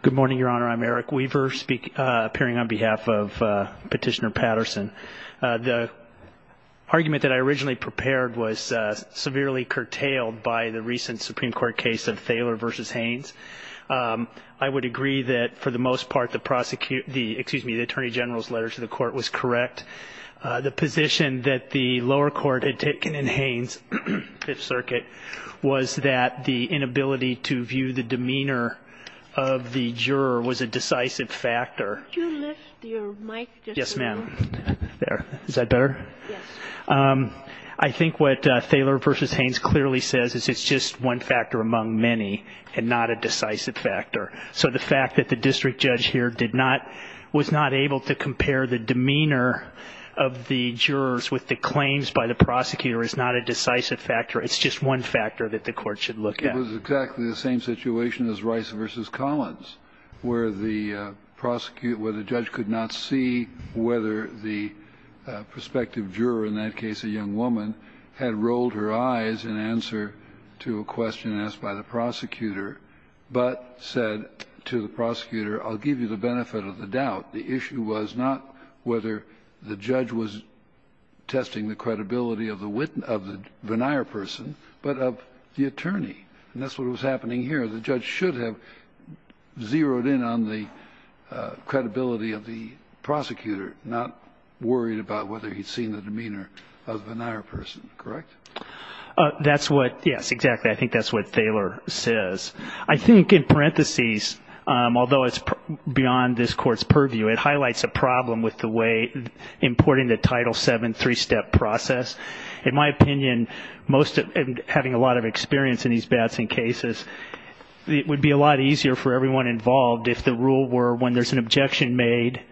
Good morning, Your Honor. I'm Eric Weaver, appearing on behalf of Petitioner Patterson. The argument that I originally prepared was severely curtailed by the recent Supreme Court case of Thaler v. Haines. I would agree that, for the most part, the Attorney General's letter to the Court was correct. The position that the lower court had taken in Haines' Fifth Circuit was that the inability to view the demeanor of the juror was a decisive factor. Could you lift your mic just a little? Yes, ma'am. There. Is that better? Yes. I think what Thaler v. Haines clearly says is it's just one factor among many and not a decisive factor. So the fact that the district judge here was not able to compare the demeanor of the jurors with the claims by the prosecutor is not a decisive factor. It's just one factor that the Court should look at. It was exactly the same situation as Rice v. Collins, where the prosecutor or the judge could not see whether the prospective juror, in that case a young woman, had rolled her eyes in answer to a question asked by the prosecutor, but said to the prosecutor, I'll give you the benefit of the doubt. The issue was not whether the judge was testing the credibility of the Vennire person, but of the attorney. And that's what was happening here. The judge should have zeroed in on the credibility of the prosecutor, not worried about whether he'd seen the demeanor of the Vennire person. Correct? That's what, yes, exactly. I think that's what Thaler says. I think in parentheses, although it's beyond this Court's purview, it highlights a problem with the way importing the Title VII three-step process. In my opinion, having a lot of experience in these Batson cases, it would be a lot easier for everyone involved if the rule were, when there's an objection made,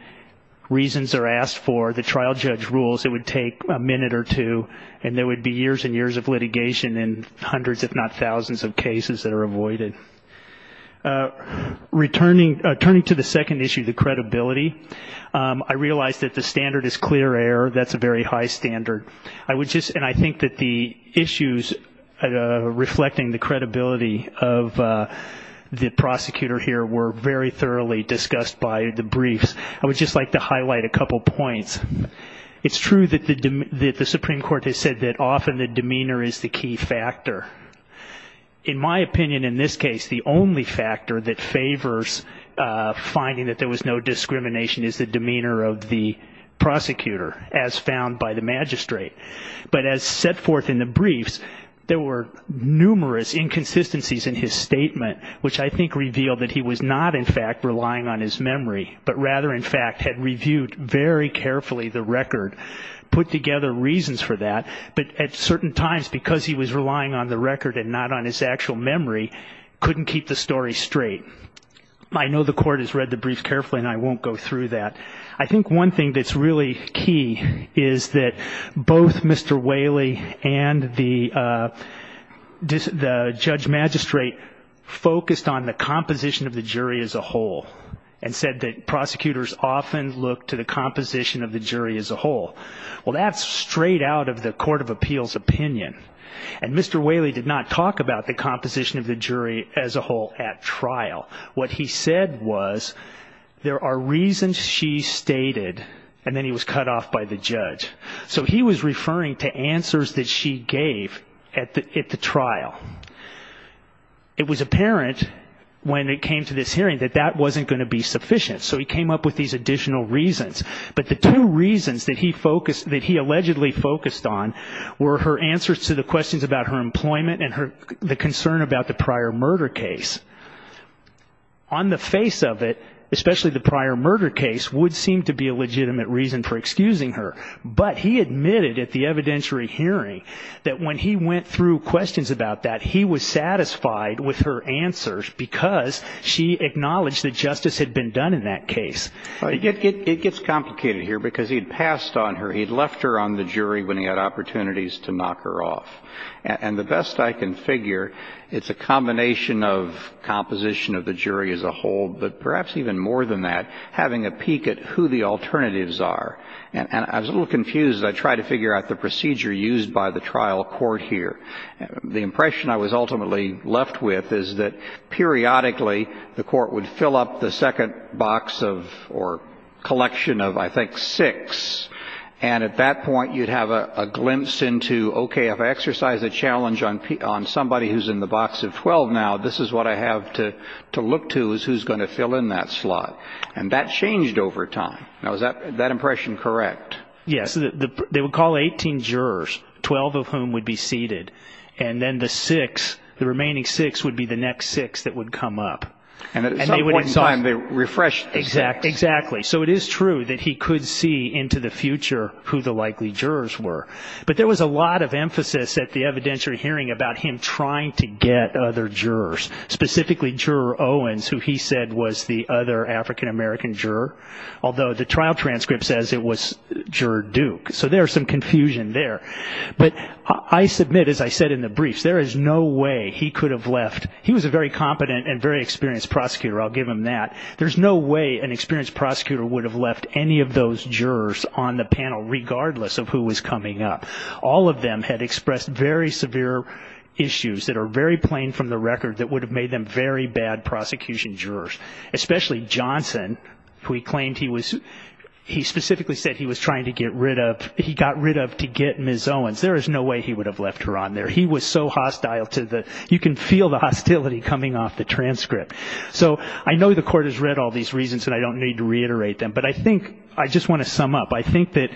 reasons are asked for, the trial judge rules, it would take a minute or two, and there would be years and years of litigation and hundreds if not thousands of cases that are avoided. Returning to the second issue, the credibility, I realize that the standard is clear error. That's a very high standard. And I think that the issues reflecting the credibility of the prosecutor here were very thoroughly discussed by the briefs. I would just like to highlight a couple points. It's true that the Supreme Court has said that often the demeanor is the key factor. In my opinion, in this case, the only factor that favors finding that there was no discrimination is the demeanor of the prosecutor, as found by the magistrate. But as set forth in the briefs, there were numerous inconsistencies in his statement, which I think revealed that he was not, in fact, relying on his memory, but rather, in fact, had reviewed very carefully the record, put together reasons for that, but at certain times, because he was relying on the record and not on his actual memory, couldn't keep the story straight. I know the court has read the brief carefully, and I won't go through that. I think one thing that's really key is that both Mr. Whaley and the judge magistrate focused on the composition of the jury as a whole and said that prosecutors often look to the composition of the jury as a whole. Well, that's straight out of the Court of Appeals' opinion. And Mr. Whaley did not talk about the composition of the jury as a whole at trial. What he said was, there are reasons she stated, and then he was cut off by the judge. So he was referring to answers that she gave at the trial. It was apparent when it came to this hearing that that wasn't going to be sufficient, so he came up with these additional reasons. But the two reasons that he focused, that he allegedly focused on, were her answers to the questions about her employment and the concern about the prior murder case. On the face of it, especially the prior murder case, would seem to be a legitimate reason for excusing her. But he admitted at the evidentiary hearing that when he went through questions about that, he was satisfied with her answers because she acknowledged that justice had been done in that case. It gets complicated here because he'd passed on her. He'd left her on the jury when he had opportunities to knock her off. And the best I can figure, it's a combination of composition of the jury as a whole, but perhaps even more than that, having a peek at who the alternatives are. And I was a little confused as I tried to figure out the procedure used by the trial court here. The impression I was ultimately left with is that periodically the court would fill up the second box of or collection of, I think, six. And at that point, you'd have a glimpse into, okay, if I exercise a challenge on somebody who's in the box of 12 now, this is what I have to look to is who's going to fill in that slot. And that changed over time. Now, is that impression correct? Yes. They would call 18 jurors, 12 of whom would be seated, and then the remaining six would be the next six that would come up. And at some point in time, they refreshed the six. Exactly. So it is true that he could see into the future who the likely jurors were. But there was a lot of emphasis at the evidentiary hearing about him trying to get other jurors, specifically Juror Owens, who he said was the other African-American juror, although the trial transcript says it was Juror Duke. So there's some confusion there. But I submit, as I said in the briefs, there is no way he could have left. He was a very competent and very experienced prosecutor. I'll give him that. There's no way an experienced prosecutor would have left any of those jurors on the panel, regardless of who was coming up. All of them had expressed very severe issues that are very plain from the record that would have made them very bad prosecution jurors, especially Johnson, who he specifically said he was trying to get rid of. He got rid of to get Ms. Owens. There is no way he would have left her on there. He was so hostile. You can feel the hostility coming off the transcript. So I know the Court has read all these reasons, and I don't need to reiterate them. But I think I just want to sum up. I think that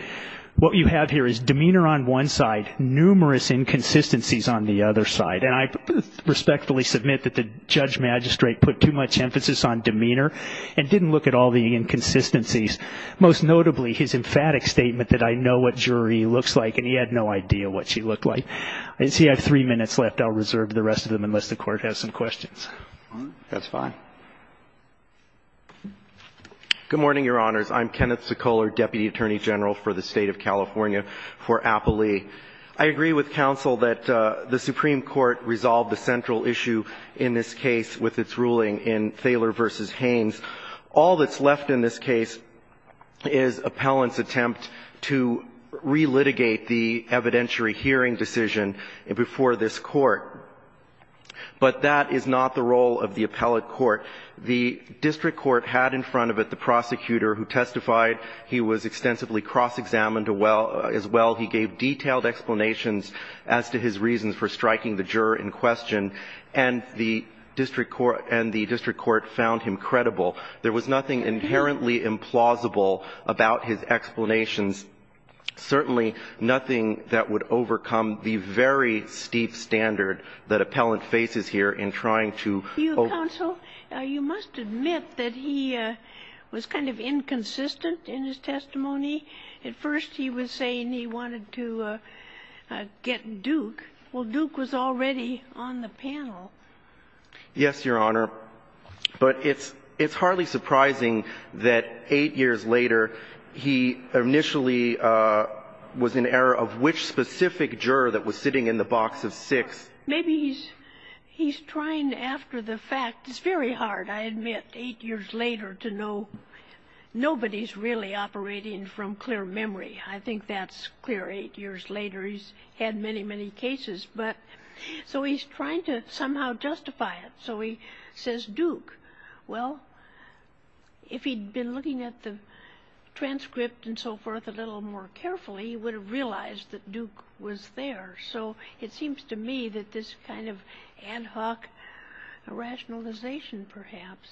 what you have here is demeanor on one side, numerous inconsistencies on the other side. And I respectfully submit that the judge magistrate put too much emphasis on demeanor and didn't look at all the inconsistencies, most notably his emphatic statement that I know what jury looks like, and he had no idea what she looked like. I see I have three minutes left. I'll reserve the rest of them unless the Court has some questions. That's fine. Good morning, Your Honors. I'm Kenneth Sekoler, Deputy Attorney General for the State of California for Appley. I agree with counsel that the Supreme Court resolved the central issue in this case with its ruling in Thaler v. Haynes. All that's left in this case is appellant's attempt to relitigate the evidentiary hearing decision before this Court. But that is not the role of the appellate court. The district court had in front of it the prosecutor who testified. He was extensively cross-examined as well. He gave detailed explanations as to his reasons for striking the juror in question, and the district court found him credible. There was nothing inherently implausible about his explanations, certainly nothing that would overcome the very steep standard that appellant faces here in trying to overcome. You, counsel, you must admit that he was kind of inconsistent in his testimony. At first he was saying he wanted to get Duke. Well, Duke was already on the panel. Yes, Your Honor. But it's hardly surprising that eight years later he initially was in error of which specific juror that was sitting in the box of six. Maybe he's trying after the fact. It's very hard, I admit, eight years later to know nobody's really operating from clear memory. I think that's clear eight years later. He's had many, many cases. So he's trying to somehow justify it. So he says Duke. Well, if he'd been looking at the transcript and so forth a little more carefully, he would have realized that Duke was there. So it seems to me that this kind of ad hoc rationalization perhaps.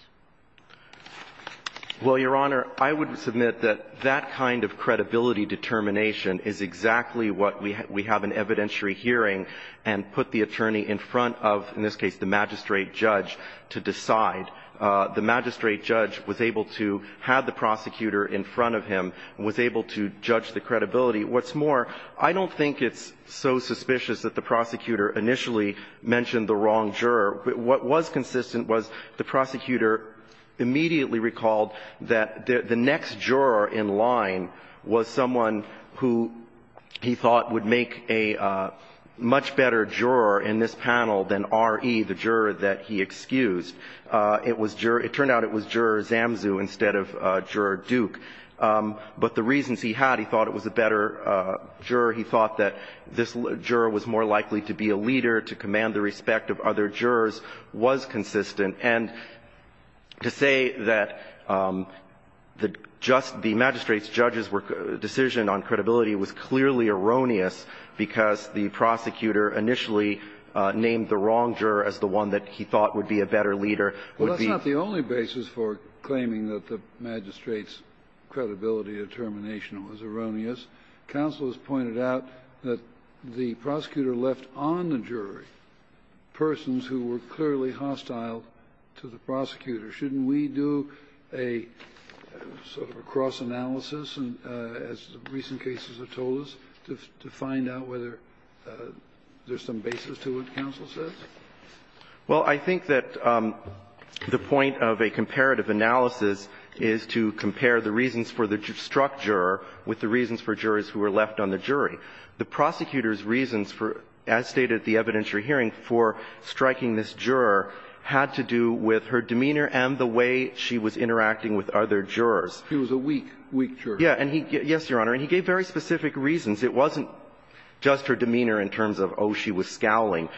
Well, Your Honor, I would submit that that kind of credibility determination is exactly what we have in evidentiary hearing and put the attorney in front of, in this case, the magistrate judge to decide. The magistrate judge was able to have the prosecutor in front of him, was able to judge the credibility. What's more, I don't think it's so suspicious that the prosecutor initially mentioned the wrong juror. What was consistent was the prosecutor immediately recalled that the next juror in line was someone who he thought would make a much better juror in this panel than R.E., the juror that he excused. It turned out it was Juror Zamsu instead of Juror Duke. But the reasons he had, he thought it was a better juror. He thought that this juror was more likely to be a leader, to command the respect of other jurors, was consistent. And to say that just the magistrate's judge's decision on credibility was clearly erroneous because the prosecutor initially named the wrong juror as the one that he thought would be a better leader. Well, that's not the only basis for claiming that the magistrate's credibility determination was erroneous. Counsel has pointed out that the prosecutor left on the jury persons who were clearly hostile to the prosecutor. Shouldn't we do a sort of a cross-analysis, as recent cases have told us, to find out whether there's some basis to what counsel says? Well, I think that the point of a comparative analysis is to compare the reasons for the struck juror with the reasons for jurors who were left on the jury. The prosecutor's reasons for, as stated at the evidentiary hearing, for striking this juror had to do with her demeanor and the way she was interacting with other jurors. He was a weak, weak juror. Yes, Your Honor. And he gave very specific reasons. It wasn't just her demeanor in terms of, oh, she was scowling.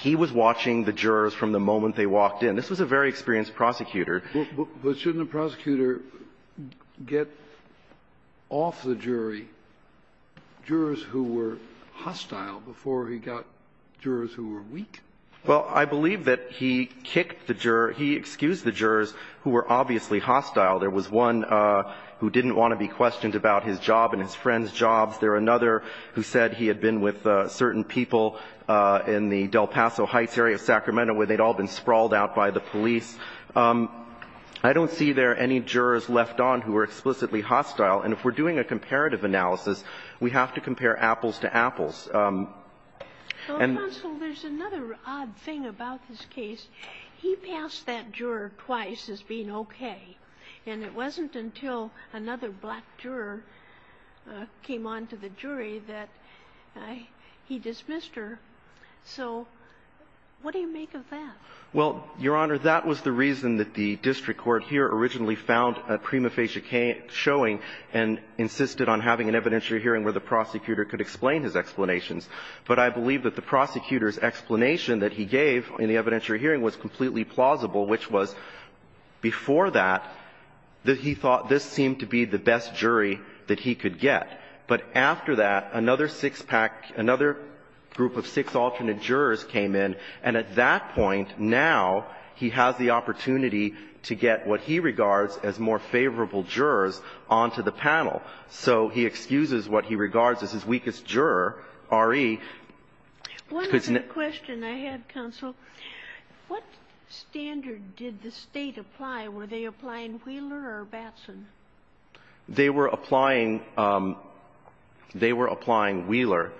He was watching the jurors from the moment they walked in. This was a very experienced prosecutor. But shouldn't the prosecutor get off the jury jurors who were hostile before he got jurors who were weak? Well, I believe that he kicked the juror – he excused the jurors who were obviously hostile. There was one who didn't want to be questioned about his job and his friend's jobs. There was another who said he had been with certain people in the Del Paso Heights area of Sacramento where they'd all been sprawled out by the police. I don't see there any jurors left on who were explicitly hostile. And if we're doing a comparative analysis, we have to compare apples to apples. And the – Well, counsel, there's another odd thing about this case. He passed that juror twice as being okay, and it wasn't until another black juror came on to the jury that he dismissed her. So what do you make of that? Well, Your Honor, that was the reason that the district court here originally found a prima facie showing and insisted on having an evidentiary hearing where the prosecutor could explain his explanations. But I believe that the prosecutor's explanation that he gave in the evidentiary hearing was completely plausible, which was, before that, that he thought this seemed to be the best jury that he could get. But after that, another six-pack – another group of six alternate jurors came in. And at that point, now he has the opportunity to get what he regards as more favorable jurors onto the panel. So he excuses what he regards as his weakest juror, R.E. One other question I have, counsel. What standard did the State apply? Were they applying Wheeler or Batson? They were applying – they were applying Wheeler,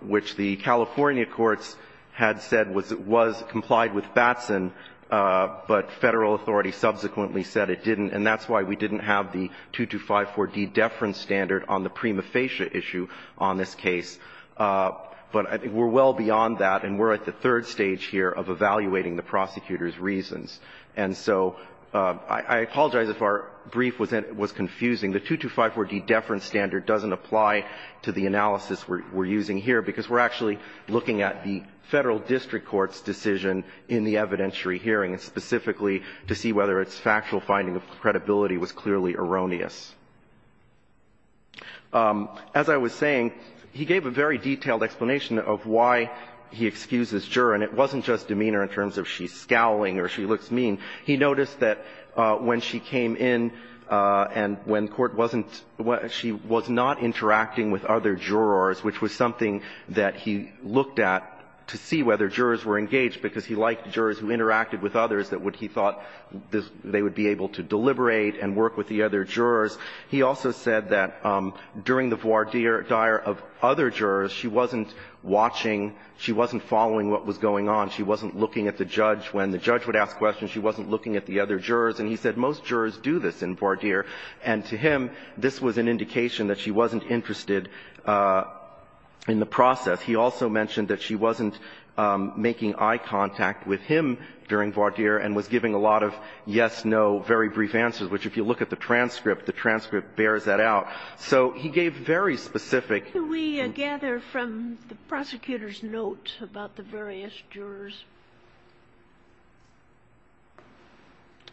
which the California courts had said was – was – complied with Batson, but Federal authority subsequently said it didn't. And that's why we didn't have the 2254d deference standard on the prima facie issue on this case. But we're well beyond that, and we're at the third stage here of evaluating the prosecutor's reasons. And so I apologize if our brief was confusing. The 2254d deference standard doesn't apply to the analysis we're using here, because we're actually looking at the Federal district court's decision in the evidentiary hearing, specifically to see whether its factual finding of credibility was clearly erroneous. As I was saying, he gave a very detailed explanation of why he excuses juror. And it wasn't just demeanor in terms of she's scowling or she looks mean. He noticed that when she came in and when court wasn't – she was not interacting with other jurors, which was something that he looked at to see whether jurors were engaged, because he liked jurors who interacted with others that he thought they would be able to deliberate and work with the other jurors. He also said that during the voir dire of other jurors, she wasn't watching, she wasn't following what was going on. She wasn't looking at the judge. When the judge would ask questions, she wasn't looking at the other jurors. And he said most jurors do this in voir dire. And to him, this was an indication that she wasn't interested in the process. He also mentioned that she wasn't making eye contact with him during voir dire and was giving a lot of yes, no, very brief answers, which if you look at the transcript, the transcript bears that out. So he gave very specific – specific notes about the various jurors.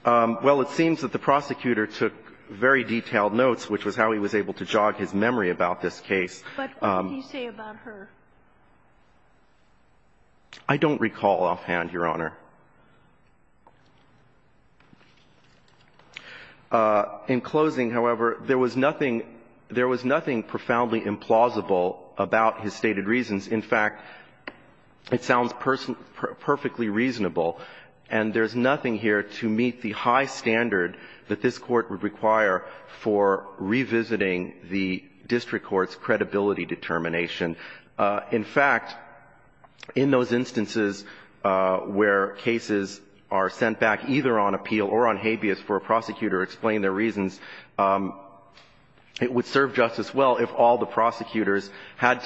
Well, it seems that the prosecutor took very detailed notes, which was how he was able to jog his memory about this case. But what did he say about her? I don't recall offhand, Your Honor. In closing, however, there was nothing – there was nothing profoundly implausible about his stated reasons. In fact, it sounds perfectly reasonable. And there's nothing here to meet the high standard that this Court would require for revisiting the district court's credibility determination. In fact, in those instances where cases are sent back either on appeal or on habeas for a prosecutor explaining their reasons, it would serve justice well if all the jurors had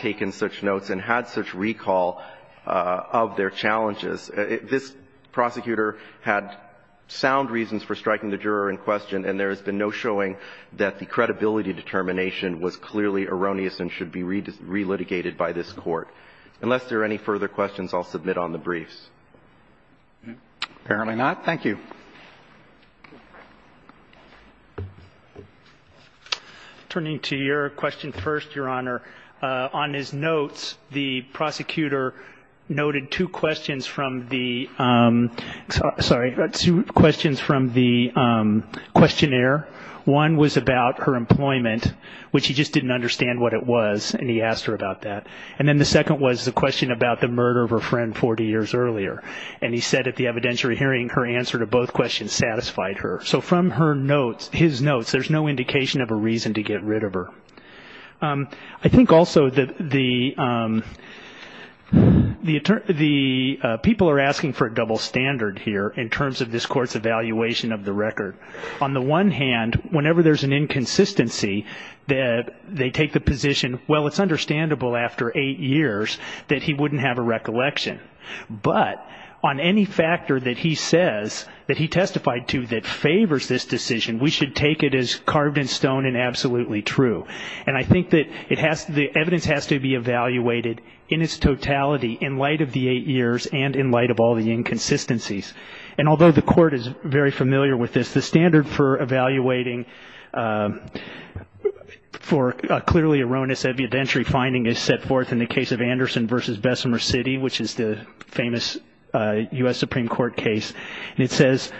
such recall of their challenges. This prosecutor had sound reasons for striking the juror in question, and there has been no showing that the credibility determination was clearly erroneous and should be relitigated by this Court. Unless there are any further questions, I'll submit on the briefs. Apparently not. Thank you. Turning to your question first, Your Honor, on his notes, the prosecutor noted two questions from the – sorry, two questions from the questionnaire. One was about her employment, which he just didn't understand what it was, and he asked her about that. And then the second was the question about the murder of her friend 40 years earlier, and he said at the evidentiary hearing her answer to both questions dissatisfied her. So from her notes, his notes, there's no indication of a reason to get rid of her. I think also that the people are asking for a double standard here in terms of this Court's evaluation of the record. On the one hand, whenever there's an inconsistency, they take the position, well, it's understandable after eight years that he wouldn't have a recollection. But on any factor that he says that he testified to that favors this decision, we should take it as carved in stone and absolutely true. And I think that it has – the evidence has to be evaluated in its totality in light of the eight years and in light of all the inconsistencies. And although the Court is very familiar with this, the standard for evaluating for a clearly erroneous evidentiary finding is set forth in the case of the famous U.S. Supreme Court case. And it says,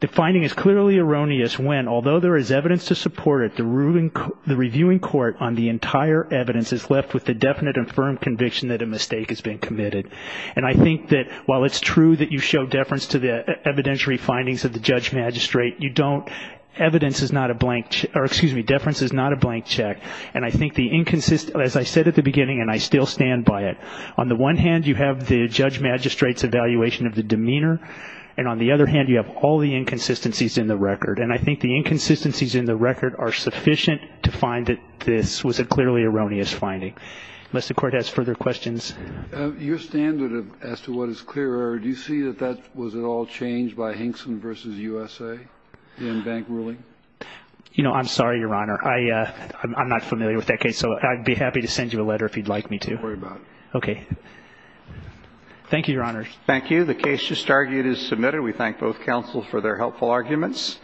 the finding is clearly erroneous when, although there is evidence to support it, the reviewing court on the entire evidence is left with the definite and firm conviction that a mistake has been committed. And I think that while it's true that you show deference to the evidentiary findings of the judge magistrate, you don't – evidence is not a blank – or excuse me, deference is not a blank check. And I think the – as I said at the beginning, and I still stand by it, on the one hand, you have the judge magistrate's evaluation of the demeanor, and on the other hand, you have all the inconsistencies in the record. And I think the inconsistencies in the record are sufficient to find that this was a clearly erroneous finding. Unless the Court has further questions. Your standard as to what is clear, do you see that that was at all changed by Hinkson v. USA in bank ruling? You know, I'm sorry, Your Honor. I'm not familiar with that case, so I'd be happy to send you a letter if you'd like me to. Don't worry about it. Okay. Thank you, Your Honors. Thank you. The case just argued is submitted. We thank both counsels for their helpful arguments.